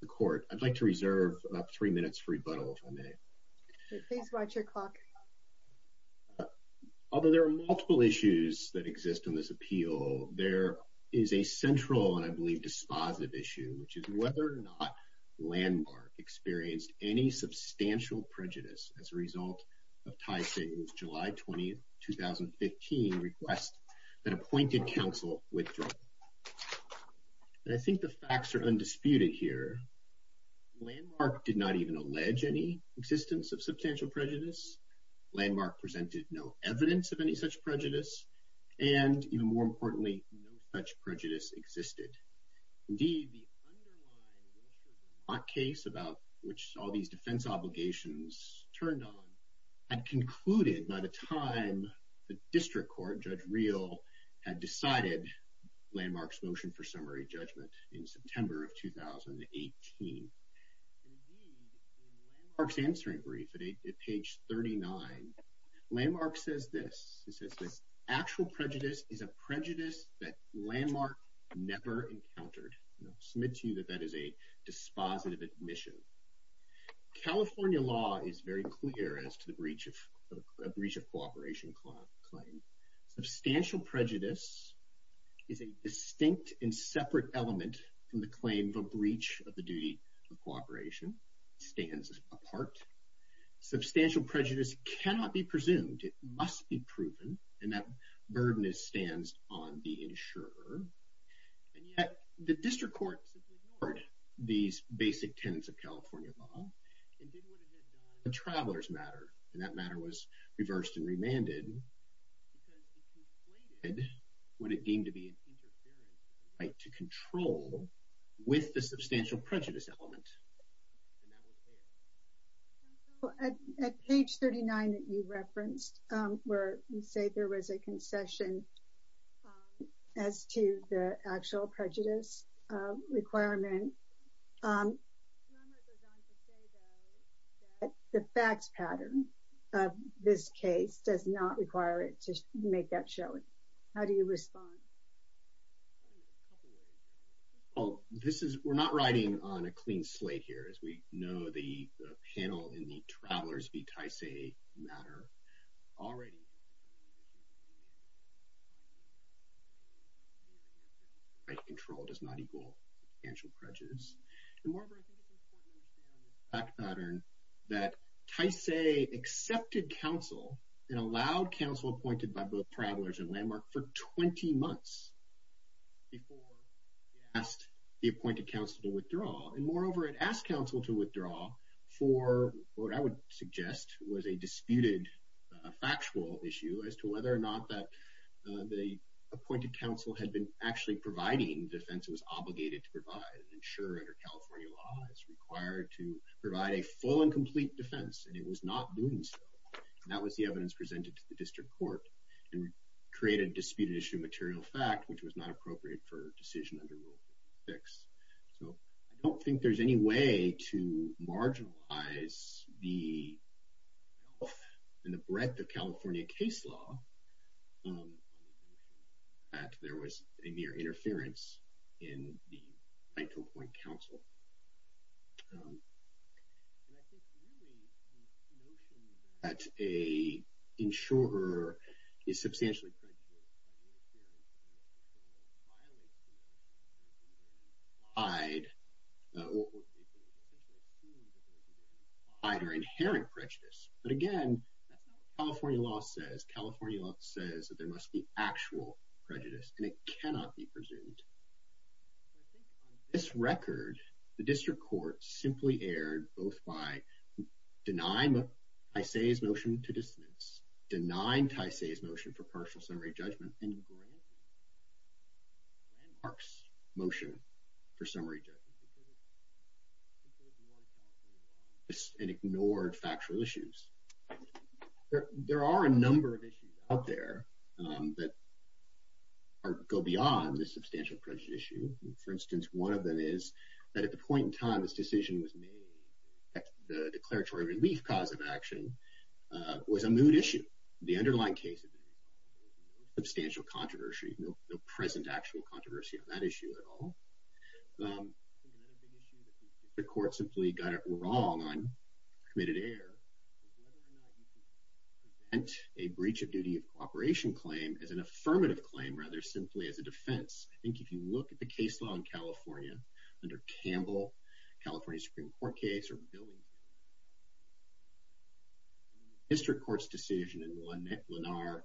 The court I'd like to reserve three minutes for rebuttal if I may Although there are multiple issues that exist on this appeal there is a central and I believe dispositive issue, which is whether or not landmark experienced any substantial prejudice as a result of Tai Shing's July 20 2015 request that appointed counsel withdraw And I think the facts are undisputed here Landmark did not even allege any existence of substantial prejudice Landmark presented no evidence of any such prejudice and even more importantly no such prejudice existed indeed the Hot case about which all these defense obligations turned on and concluded by the time District Court judge real had decided landmarks motion for summary judgment in September of 2018 Parks answering brief at page 39 Landmark says this it says this actual prejudice is a prejudice that landmark never encountered submit to you that that is a dispositive admission California law is very clear as to the breach of a breach of cooperation clause substantial prejudice Is a distinct and separate element from the claim of a breach of the duty of cooperation stands apart Substantial prejudice cannot be presumed. It must be proven and that burden is stands on the insurer The district court these basic tenants of California law Travelers matter and that matter was reversed and remanded And would it deem to be an interference right to control with the substantial prejudice element At page 39 that you referenced where you say there was a concession as to the actual prejudice requirement The Facts pattern of this case does not require it to make that showing. How do you respond? Oh This is we're not riding on a clean slate here as we know the panel in the travelers be Tice a matter already I Control does not equal Pattern that Tice a accepted counsel and allowed counsel appointed by both travelers and landmark for 20 months before Asked the appointed counsel to withdraw and moreover. It asked counsel to withdraw for what I would suggest was a disputed Factual issue as to whether or not that The appointed counsel had been actually providing defense It was obligated to provide and ensure under California law is required to provide a full and complete defense And it was not doing so that was the evidence presented to the district court and create a disputed issue material fact Which was not appropriate for decision under rule fix. So I don't think there's any way to marginalize the Health and the breadth of California case law That there was a mere interference in the Michael point counsel That's a insurer is substantially Hide I Her inherent prejudice, but again California law says California law says that there must be actual prejudice and it cannot be presumed This record the district court simply aired both by Denying what I say is motion to dismiss denying Tice a motion for partial summary judgment and grant And marks motion for summary It's an ignored factual issues There are a number of issues out there that Go beyond the substantial prejudice you for instance One of them is that at the point in time this decision was made at the declaratory relief cause of action Was a mood issue the underlying case of? Substantial controversy no present actual controversy on that issue at all The court simply got it wrong I'm committed air And a breach of duty of cooperation claim as an affirmative claim rather simply as a defense I think if you look at the case law in California under Campbell, California Supreme Court case or billing Mr. Court's decision in one Nick Lennar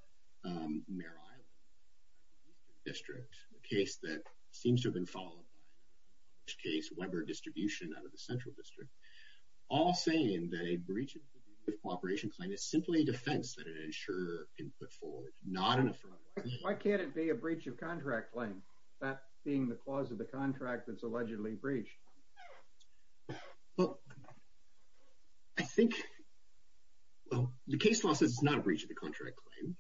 District a case that seems to have been followed Case Weber distribution out of the central district all saying that a breach of cooperation Claim is simply a defense that it ensure in put forward not in a front. Why can't it be a breach of contract claim? That being the cause of the contract that's allegedly breached I Think well the case law says it's not a breach of the contract claim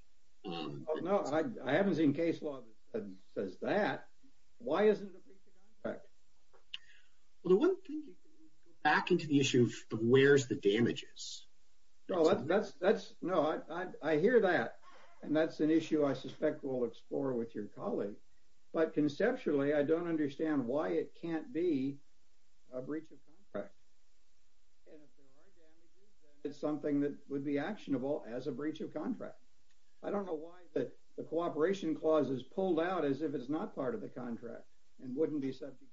No, I haven't seen case law Says that why isn't it? Well the one thing Back into the issue of where's the damages? No, that's that's no I hear that and that's an issue I suspect we'll explore with your colleague, but conceptually I don't understand why it can't be a breach of contract It's something that would be actionable as a breach of contract I don't know why that the cooperation clause is pulled out as if it's not part of the contract and wouldn't be subject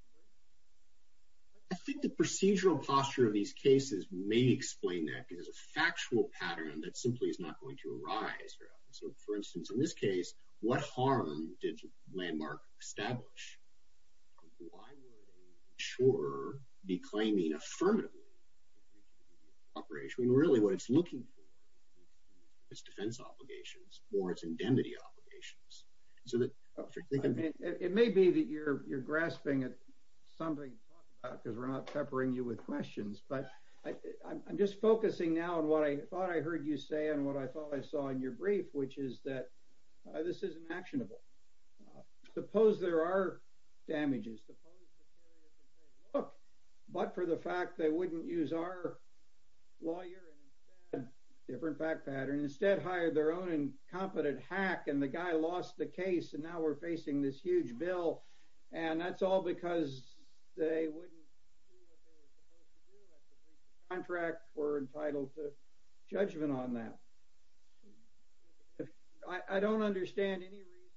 I think the procedural posture of these cases may explain that because a factual pattern that simply is not going to arise So for instance in this case, what harm did landmark establish? Why would a insurer be claiming affirmatively Operationally really what it's looking for its defense obligations or its indemnity obligations so that It may be that you're you're grasping at something Because we're not peppering you with questions But I'm just focusing now on what I thought I heard you say and what I thought I saw in your brief Which is that this is an actionable? Suppose there are damages Look, but for the fact they wouldn't use our lawyer Different back pattern instead hired their own and competent hack and the guy lost the case and now we're facing this huge bill And that's all because they wouldn't Contract were entitled to judgment on that. I Don't understand any reason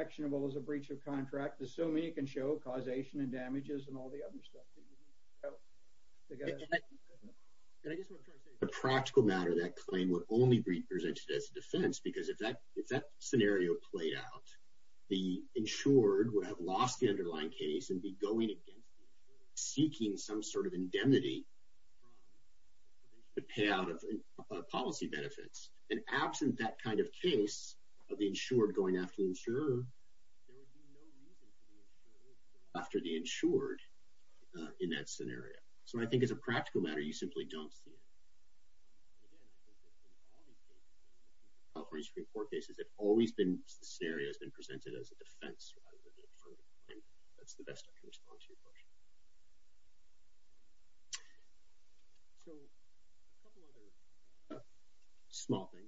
Actionable as a breach of contract assuming you can show causation and damages and all the other stuff The practical matter that claim would only be presented as a defense because if that if that scenario played out The insured would have lost the underlying case and be going against seeking some sort of indemnity To pay out of policy benefits and absent that kind of case of the insured going after the insurer After the insured in that scenario, so I think as a practical matter you simply don't see Offerings report cases have always been serious been presented as a defense A Small thing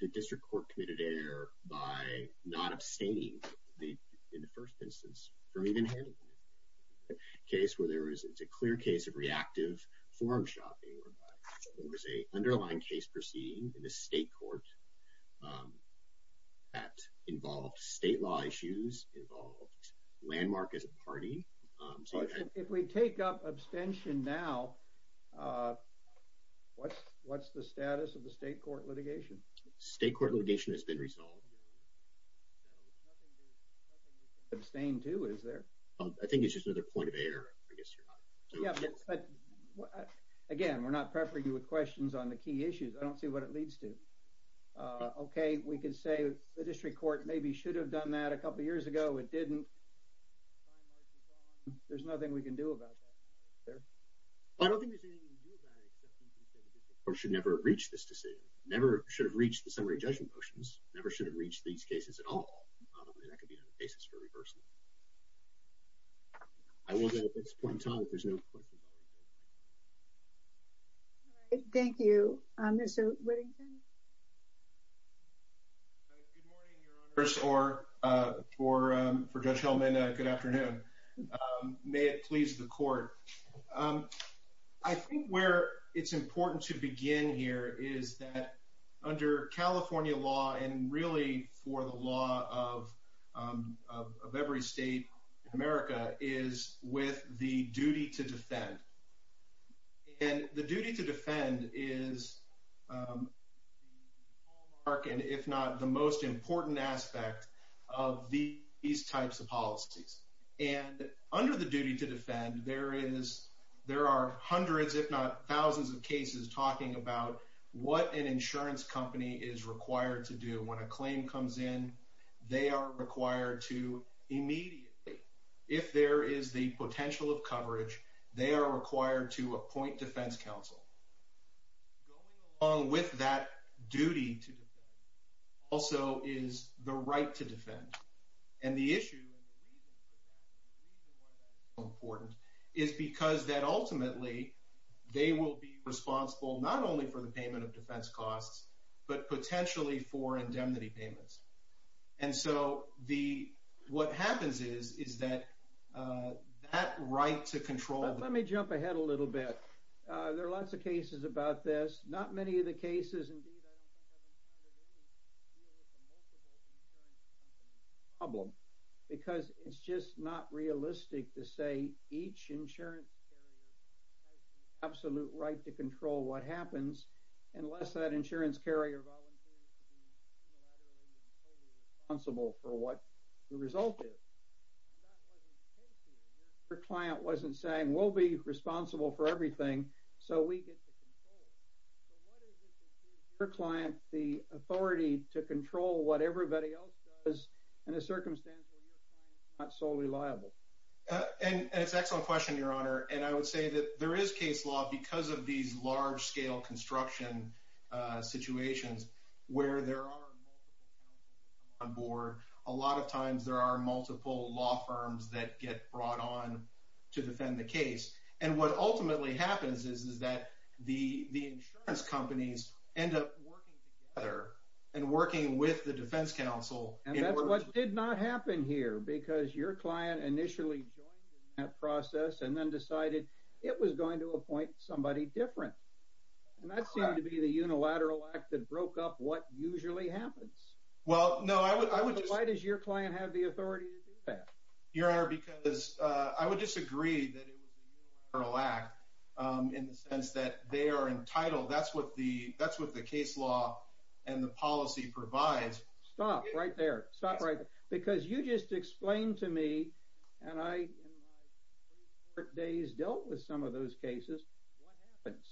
The district court committed error by not abstaining the in the first instance from even Case where there is it's a clear case of reactive forum shopping. There's a underlying case proceeding in the state court That involved state law issues involved landmark as a party If we take up abstention now What what's the status of the state court litigation state court litigation has been resolved Abstain to is there I think it's just another point of error. I guess Again we're not prepping you with questions on the key issues. I don't see what it leads to Okay, we can say the district court. Maybe should have done that a couple years ago. It didn't There's nothing we can do about Or should never reach this decision never should have reached the summary judgment motions never should have reached these cases at all Thank you First or for for judge Hellman good afternoon May it please the court? I think where it's important to begin here is that under California law and really for the law of Every state in America is with the duty to defend and the duty to defend is Mark and if not the most important aspect of the these types of policies and under the duty to defend there is There are hundreds if not thousands of cases talking about what an insurance company is required to do when a claim comes in They are required to Immediately if there is the potential of coverage they are required to appoint defense counsel Along with that duty to also is the right to defend and the issue Important is because that ultimately they will be responsible not only for the payment of defense costs, but potentially for indemnity payments and so the What happens is is that? That right to control let me jump ahead a little bit. There are lots of cases about this not many of the cases I Love because it's just not realistic to say each insurance Absolute right to control what happens unless that insurance carrier Responsible for what the result is Your client wasn't saying we'll be responsible for everything so we get The authority to control what everybody else does in a circumstance Not solely liable And it's excellent question your honor, and I would say that there is case law because of these large-scale construction situations where there are On board a lot of times there are multiple law firms that get brought on To defend the case and what ultimately happens is is that the the insurance companies end up working together and Working with the defense counsel, and that's what did not happen here because your client initially That process and then decided it was going to appoint somebody different And that's going to be the unilateral act that broke up what usually happens well Why does your client have the authority Your honor because I would disagree or lack In the sense that they are entitled. That's what the that's what the case law and the policy provides Stop right there stop right because you just explained to me and I Days dealt with some of those cases What happens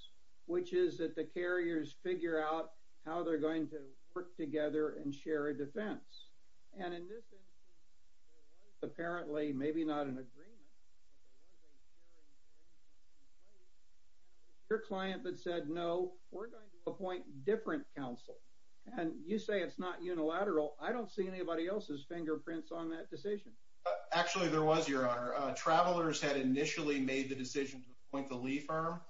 which is that the carriers figure out how they're going to work together and share a defense and in this Apparently maybe not an agreement Your client that said no we're going to appoint different counsel, and you say it's not unilateral I don't see anybody else's fingerprints on that decision actually there was your honor Travelers had initially made the decision to appoint the leaf arm,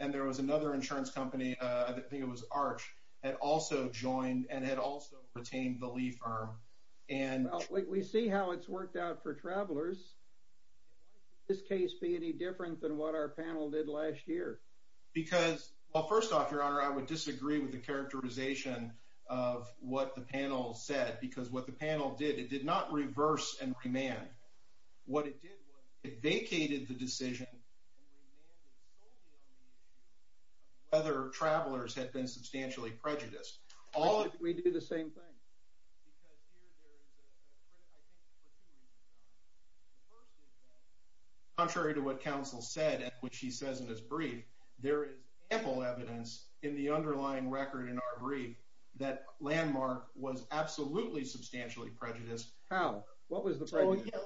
and there was another insurance company I think it was arch and also joined and had also retained the leaf arm and We see how it's worked out for travelers This case be any different than what our panel did last year Because well first off your honor. I would disagree with the characterization of What the panel said because what the panel did it did not reverse and remand? What it did it vacated the decision Other travelers had been substantially prejudiced all we do the same thing Contrary to what counsel said at which he says in his brief There is ample evidence in the underlying record in our brief that landmark was absolutely substantially Prejudiced how what was the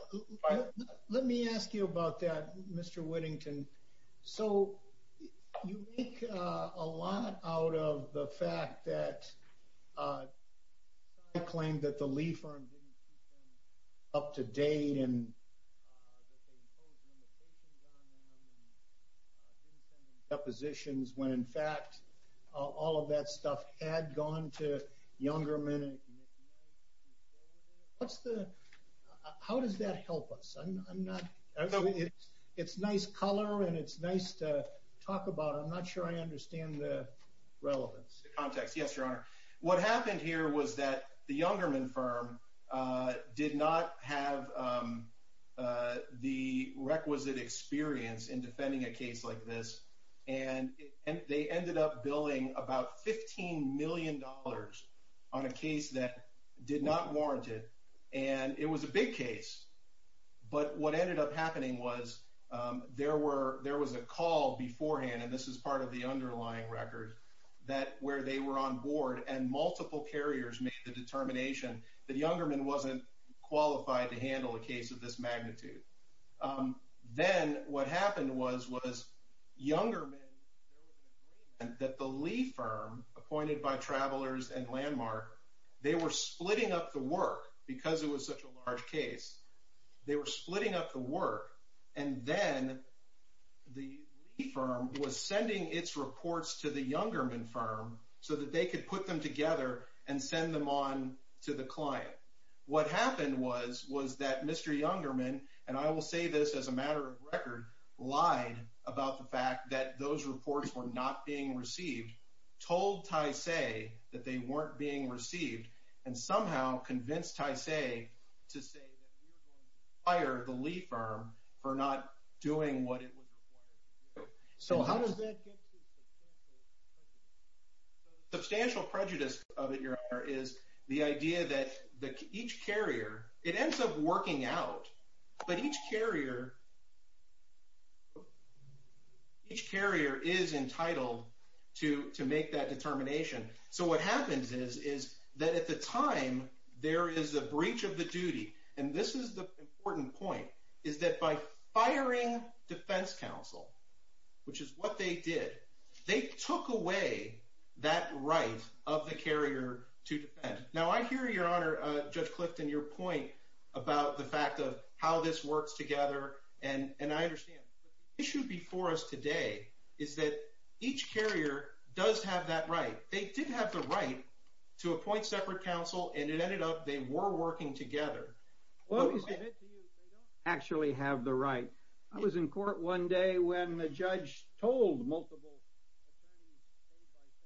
Let me ask you about that. Mr.. Whittington, so you make a lot out of the fact that Claimed that the leaf arm up to date and Depositions when in fact all of that stuff had gone to younger men What's the How does that help us? I'm not It's nice color, and it's nice to talk about. I'm not sure I understand the Relevance context yes, your honor what happened here was that the younger men firm? did not have the requisite experience in defending a case like this and And they ended up billing about 15 million dollars on a case that Did not warrant it and it was a big case But what ended up happening was? There were there was a call beforehand And this is part of the underlying record that where they were on board and multiple carriers made the determination that younger men wasn't Qualified to handle a case of this magnitude Then what happened was was younger men That the leaf firm appointed by travelers and landmark They were splitting up the work because it was such a large case They were splitting up the work and then The firm was sending its reports to the younger men firm so that they could put them together and send them on To the client what happened was was that mr.. Younger men, and I will say this as a matter of record Lied about the fact that those reports were not being received told I say that they weren't being received and somehow convinced I say to say Fire the leaf firm for not doing what it was so how does that Substantial prejudice of it your honor is the idea that the each carrier it ends up working out, but each carrier Each carrier is entitled to to make that determination So what happens is is that at the time? There is a breach of the duty, and this is the important point is that by firing defense counsel? Which is what they did they took away that right of the carrier to defend now I hear your honor judge Clifton your point about the fact of how this works together And and I understand it should be for us today. Is that each carrier does have that right? They didn't have the right to appoint separate counsel and it ended up. They were working together well Actually have the right. I was in court one day when the judge told multiple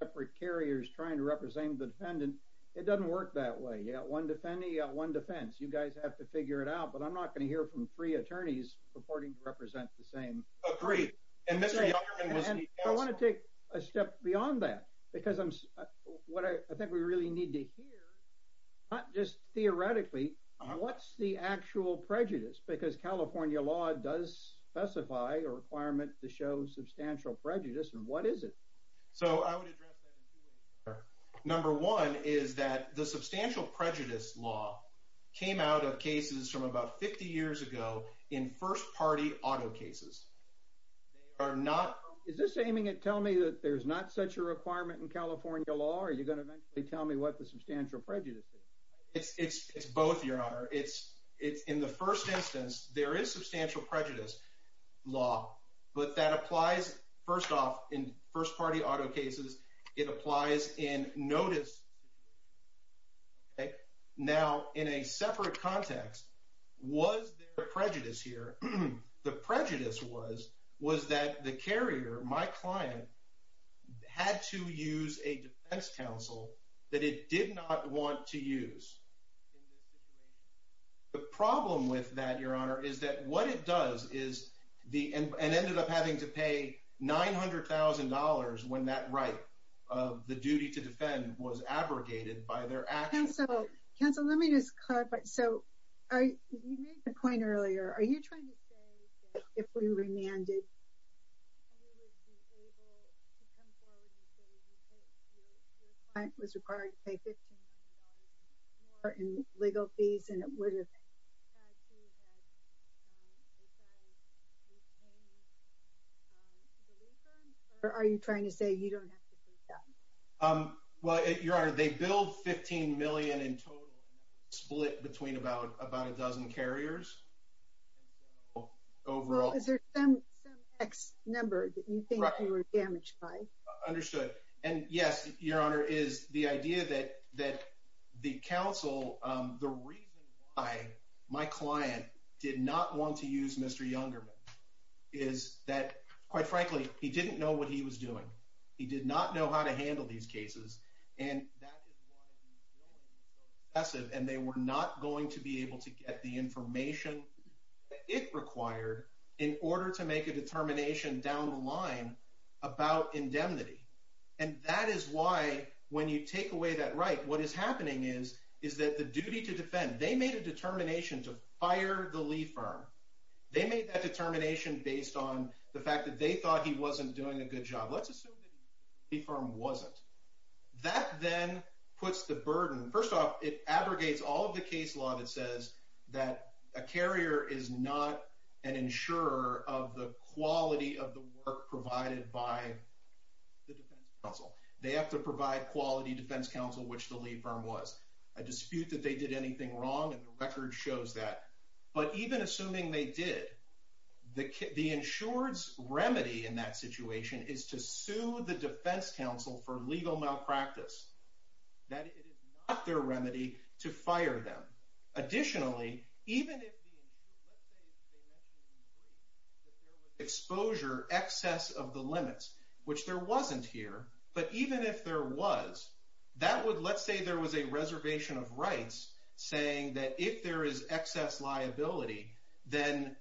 Separate carriers trying to represent the defendant it doesn't work that way Yeah, one defendee one defense you guys have to figure it out, but I'm not going to hear from three attorneys reporting to represent the same agree and Want to take a step beyond that because I'm what I think we really need to hear Not just theoretically What's the actual prejudice because California law does specify a requirement to show substantial prejudice? And what is it so? Number one is that the substantial prejudice law Came out of cases from about 50 years ago in first-party auto cases Are not is this aiming at tell me that there's not such a requirement in California law Are you going to eventually tell me what the substantial prejudice is? It's it's it's both your honor It's it's in the first instance. There is substantial prejudice Law, but that applies first off in first-party auto cases it applies in notice Okay Now in a separate context was the prejudice here The prejudice was was that the carrier my client? Had to use a defense counsel that it did not want to use The problem with that your honor is that what it does is the end and ended up having to pay $900,000 when that right of the duty to defend was abrogated by their Counselor, let me just cut but so I Point earlier. Are you trying to say if we remanded? It was required to pay $15 or in legal fees and it would have Or are you trying to say you don't have to Well, your honor they build 15 million in total split between about about a dozen carriers Overall is there some X number that you think you were damaged by understood and yes Your honor is the idea that that the council the reason I my client Did not want to use mr. Youngerman is That quite frankly, he didn't know what he was doing. He did not know how to handle these cases and Passive and they were not going to be able to get the information It required in order to make a determination down the line About indemnity and that is why when you take away that right? What is happening is is that the duty to defend they made a determination to fire the leaf firm? They made that determination based on the fact that they thought he wasn't doing a good job. Let's assume the firm wasn't That then puts the burden first off it abrogates all of the case law that says that a carrier is not an insurer of the quality of the work provided by They have to provide quality defense counsel which the lead firm was a dispute that they did anything wrong and the record shows that But even assuming they did The kid the insureds remedy in that situation is to sue the defense counsel for legal malpractice That it is not their remedy to fire them additionally even if Exposure excess of the limits which there wasn't here But even if there was that would let's say there was a reservation of rights Saying that if there is excess liability then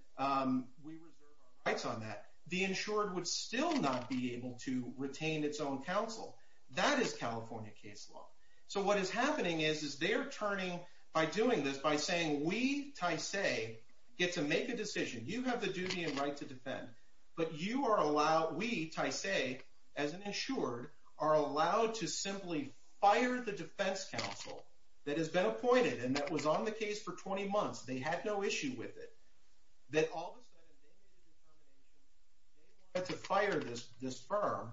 Rights on that the insured would still not be able to retain its own counsel that is California case law So what is happening is is they're turning by doing this by saying we ty say Get to make a decision you have the duty and right to defend But you are allowed we ty say as an insured are allowed to simply fire the defense counsel That has been appointed and that was on the case for 20 months. They had no issue with it that all But to fire this this firm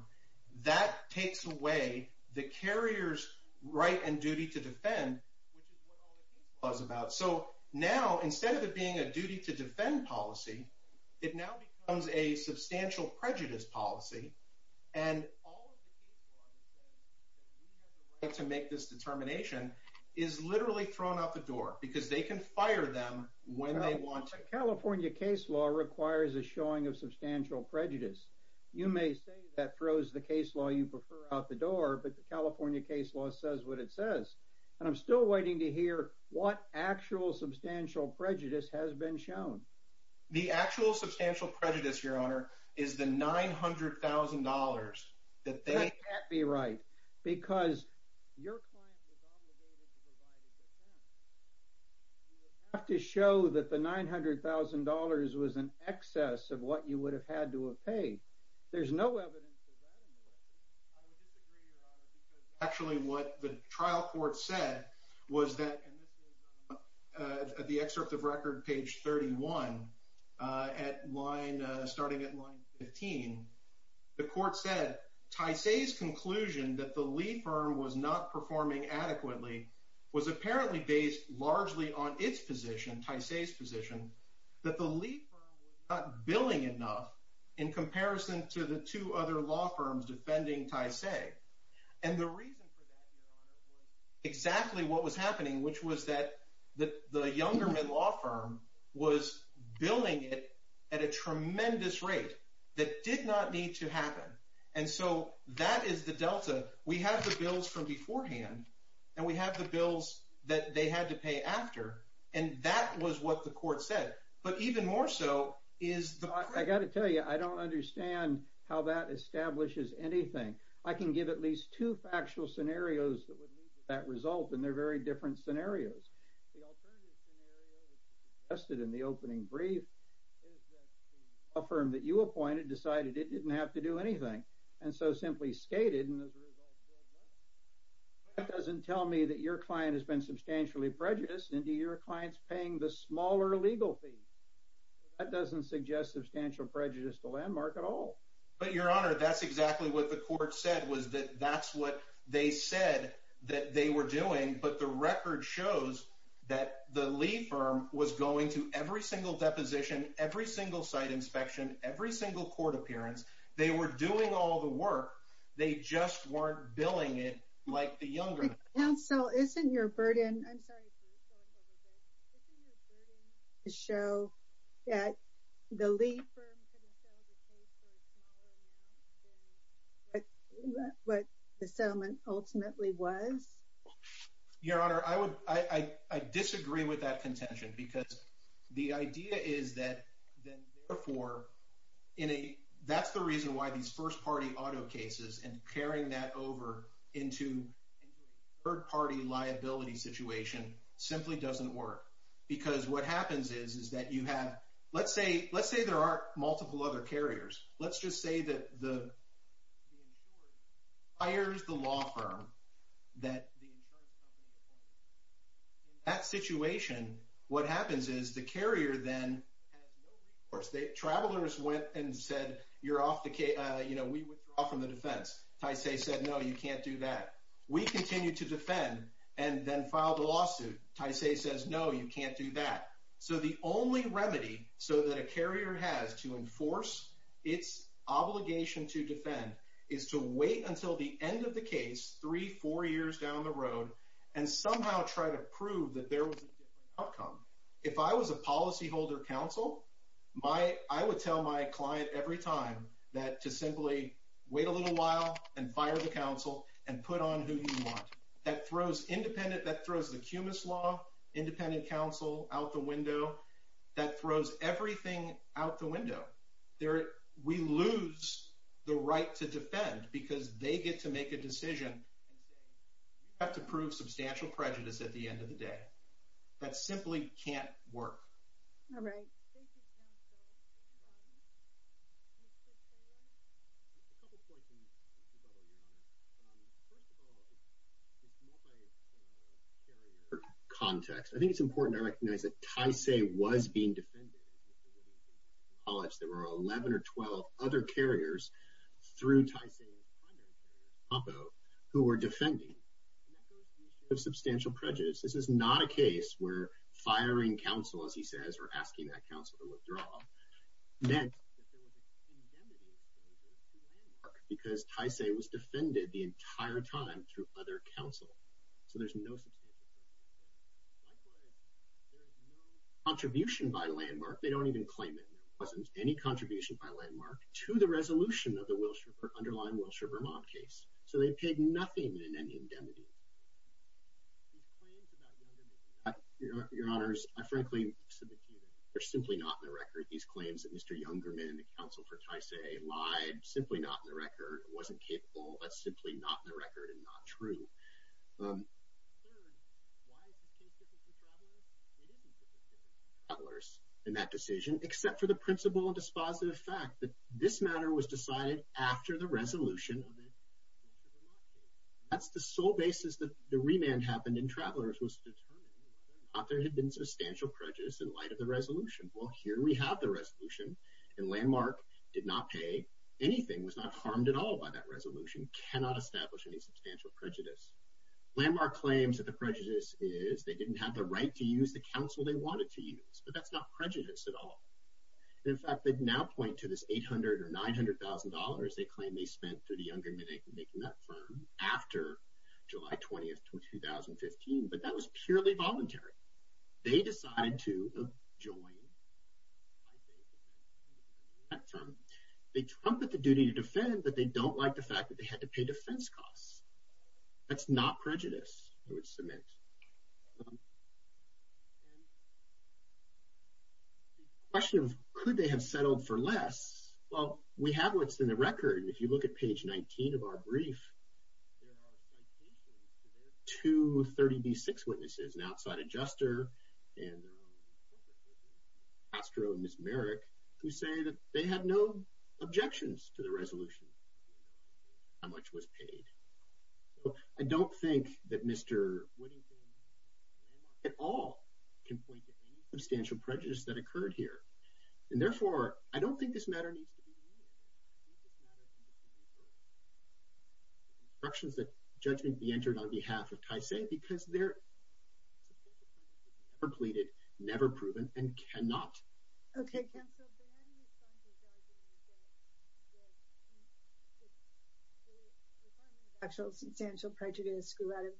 that takes away the carriers right and duty to defend Was about so now instead of it being a duty to defend policy it now becomes a substantial prejudice policy And To make this determination is Literally thrown out the door because they can fire them when they want to California case law requires a showing of substantial prejudice You may say that throws the case law you prefer out the door But the California case law says what it says and I'm still waiting to hear what actual substantial prejudice has been shown the actual substantial prejudice your honor is the $900,000 that they be right because your Have to show that the $900,000 was an excess of what you would have had to have paid there's no Actually what the trial court said was that The excerpt of record page 31 At line starting at line 15 The court said ty say's conclusion that the lead firm was not performing adequately Was apparently based largely on its position ty say's position that the lead billing enough in comparison to the two other law firms defending ty say and the reason At a tremendous rate that did not need to happen and so that is the Delta We have the bills from beforehand and we have the bills that they had to pay after and that was what the court said But even more so is I got to tell you I don't understand how that establishes anything I can give at least two factual scenarios that would lead to that result and they're very different scenarios The alternative scenario Tested in the opening brief Affirmed that you appointed decided it didn't have to do anything and so simply skated and as a result That doesn't tell me that your client has been substantially prejudiced into your clients paying the smaller legal fee That doesn't suggest substantial prejudice to landmark at all, but your honor That's exactly what the court said was that that's what they said that they were doing but the record shows That the lead firm was going to every single deposition every single site inspection every single court appearance They were doing all the work. They just weren't billing it like the younger. No, so isn't your burden? Show that the lead But the settlement ultimately was Your honor I would I disagree with that contention because the idea is that therefore in a that's the reason why these first-party auto cases and carrying that over into third party liability situation Simply doesn't work because what happens is is that you have let's say let's say there are multiple other carriers. Let's just say that the Hires the law firm that That situation what happens is the carrier then Or state travelers went and said you're off the case. You know, we would offer the defense I say said no, you can't do that We continue to defend and then file the lawsuit Taisei says no, you can't do that. So the only remedy so that a carrier has to enforce its Obligation to defend is to wait until the end of the case three four years down the road and Somehow try to prove that there was outcome if I was a policyholder counsel my I would tell my client every time that to simply Wait a little while and fire the council and put on who you want that throws independent that throws the cumulus law Independent counsel out the window that throws everything out the window there we lose the right to defend because they get to make a decision and Have to prove substantial prejudice at the end of the day that simply can't work Context I think it's important to recognize that Taisei was being defended All that's there were 11 or 12 other carriers through Taisei Poppo who were defending Of substantial prejudice. This is not a case where firing counsel as he says or asking that counsel to withdraw then Because I say was defended the entire time through other counsel so there's no Contribution by landmark, they don't even claim it wasn't any contribution by landmark to the resolution of the Wilshire underlying Wilshire, Vermont case So they paid nothing in any indemnity Your honors I frankly They're simply not in the record these claims that mr. Young German the counsel for Taisei lied simply not in the record It wasn't capable, but simply not in the record and not true In that decision except for the principle and dispositive fact that this matter was decided after the resolution That's the sole basis that the remand happened in travelers was Not there had been substantial prejudice in light of the resolution Well here we have the resolution and landmark did not pay Anything was not harmed at all by that resolution cannot establish any substantial prejudice Landmark claims that the prejudice is they didn't have the right to use the counsel. They wanted to use but that's not prejudice at all In fact, they'd now point to this eight hundred or nine hundred thousand dollars They claim they spent to the younger minute making that firm after July 20th 2015, but that was purely voluntary They decided to join They trumpet the duty to defend but they don't like the fact that they had to pay defense costs That's not prejudice Question of could they have settled for less? Well, we have what's in the record if you look at page 19 of our brief To 30 b6 witnesses and outside adjuster and Astro and Miss Merrick who say that they had no objections to the resolution How much was paid I don't think that mr. At all can point to any substantial prejudice that occurred here and therefore I don't think this matter Instructions that judgment be entered on behalf of Tysay because they're Completed never proven and cannot The actual substantial prejudice grew out of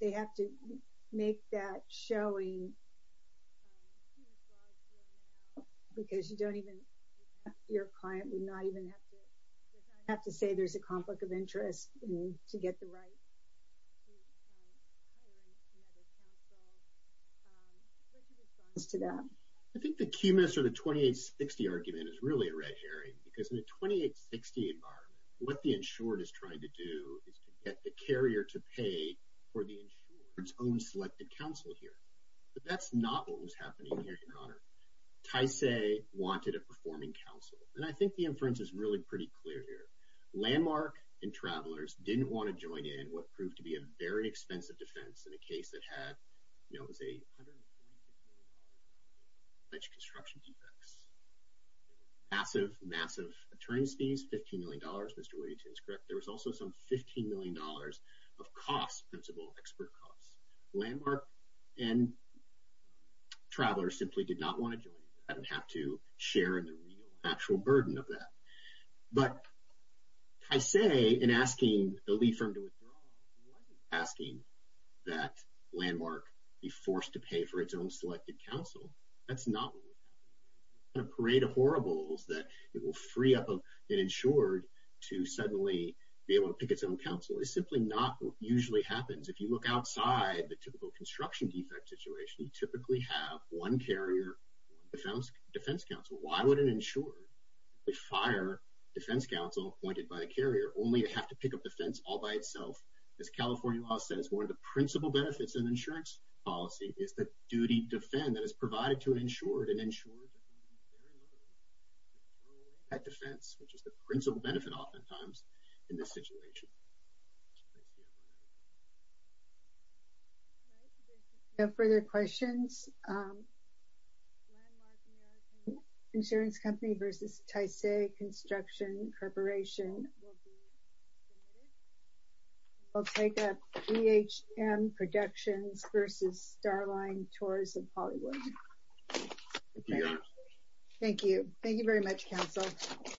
They have to make that showing Because you don't even your client would not even have to have to say there's a conflict of interest to get the right To that I think the key minister the 2860 argument is really a red herring because in the 2860 environment what the insured is trying to do is to get the carrier to pay for the insurance own selected counsel here But that's not what was happening here Tysay wanted a performing counsel and I think the inference is really pretty clear here Landmark and travelers didn't want to join in what proved to be a very expensive defense in a case that had you know as a Much construction defects Massive massive attorneys fees 15 million dollars. Mr. Williams. Correct. There was also some 15 million dollars of costs principal expert costs landmark and Travelers simply did not want to join. I don't have to share in the real actual burden of that but I Say in asking the lead firm to withdraw Asking that Landmark be forced to pay for its own selected counsel. That's not The parade of horribles that it will free up of an insured to suddenly be able to pick its own counsel It's simply not usually happens. If you look outside the typical construction defect situation, you typically have one carrier Defense counsel, why would an insured? They fire defense counsel appointed by the carrier only to have to pick up the fence all by itself as California law says one of the principal benefits and insurance policy is the duty defend that is provided to an insured and insured At defense which is the principal benefit oftentimes in this situation No further questions Insurance company versus Tice a construction corporation I'll take a phm productions versus starline tours of Hollywood Thank you, thank you very much counsel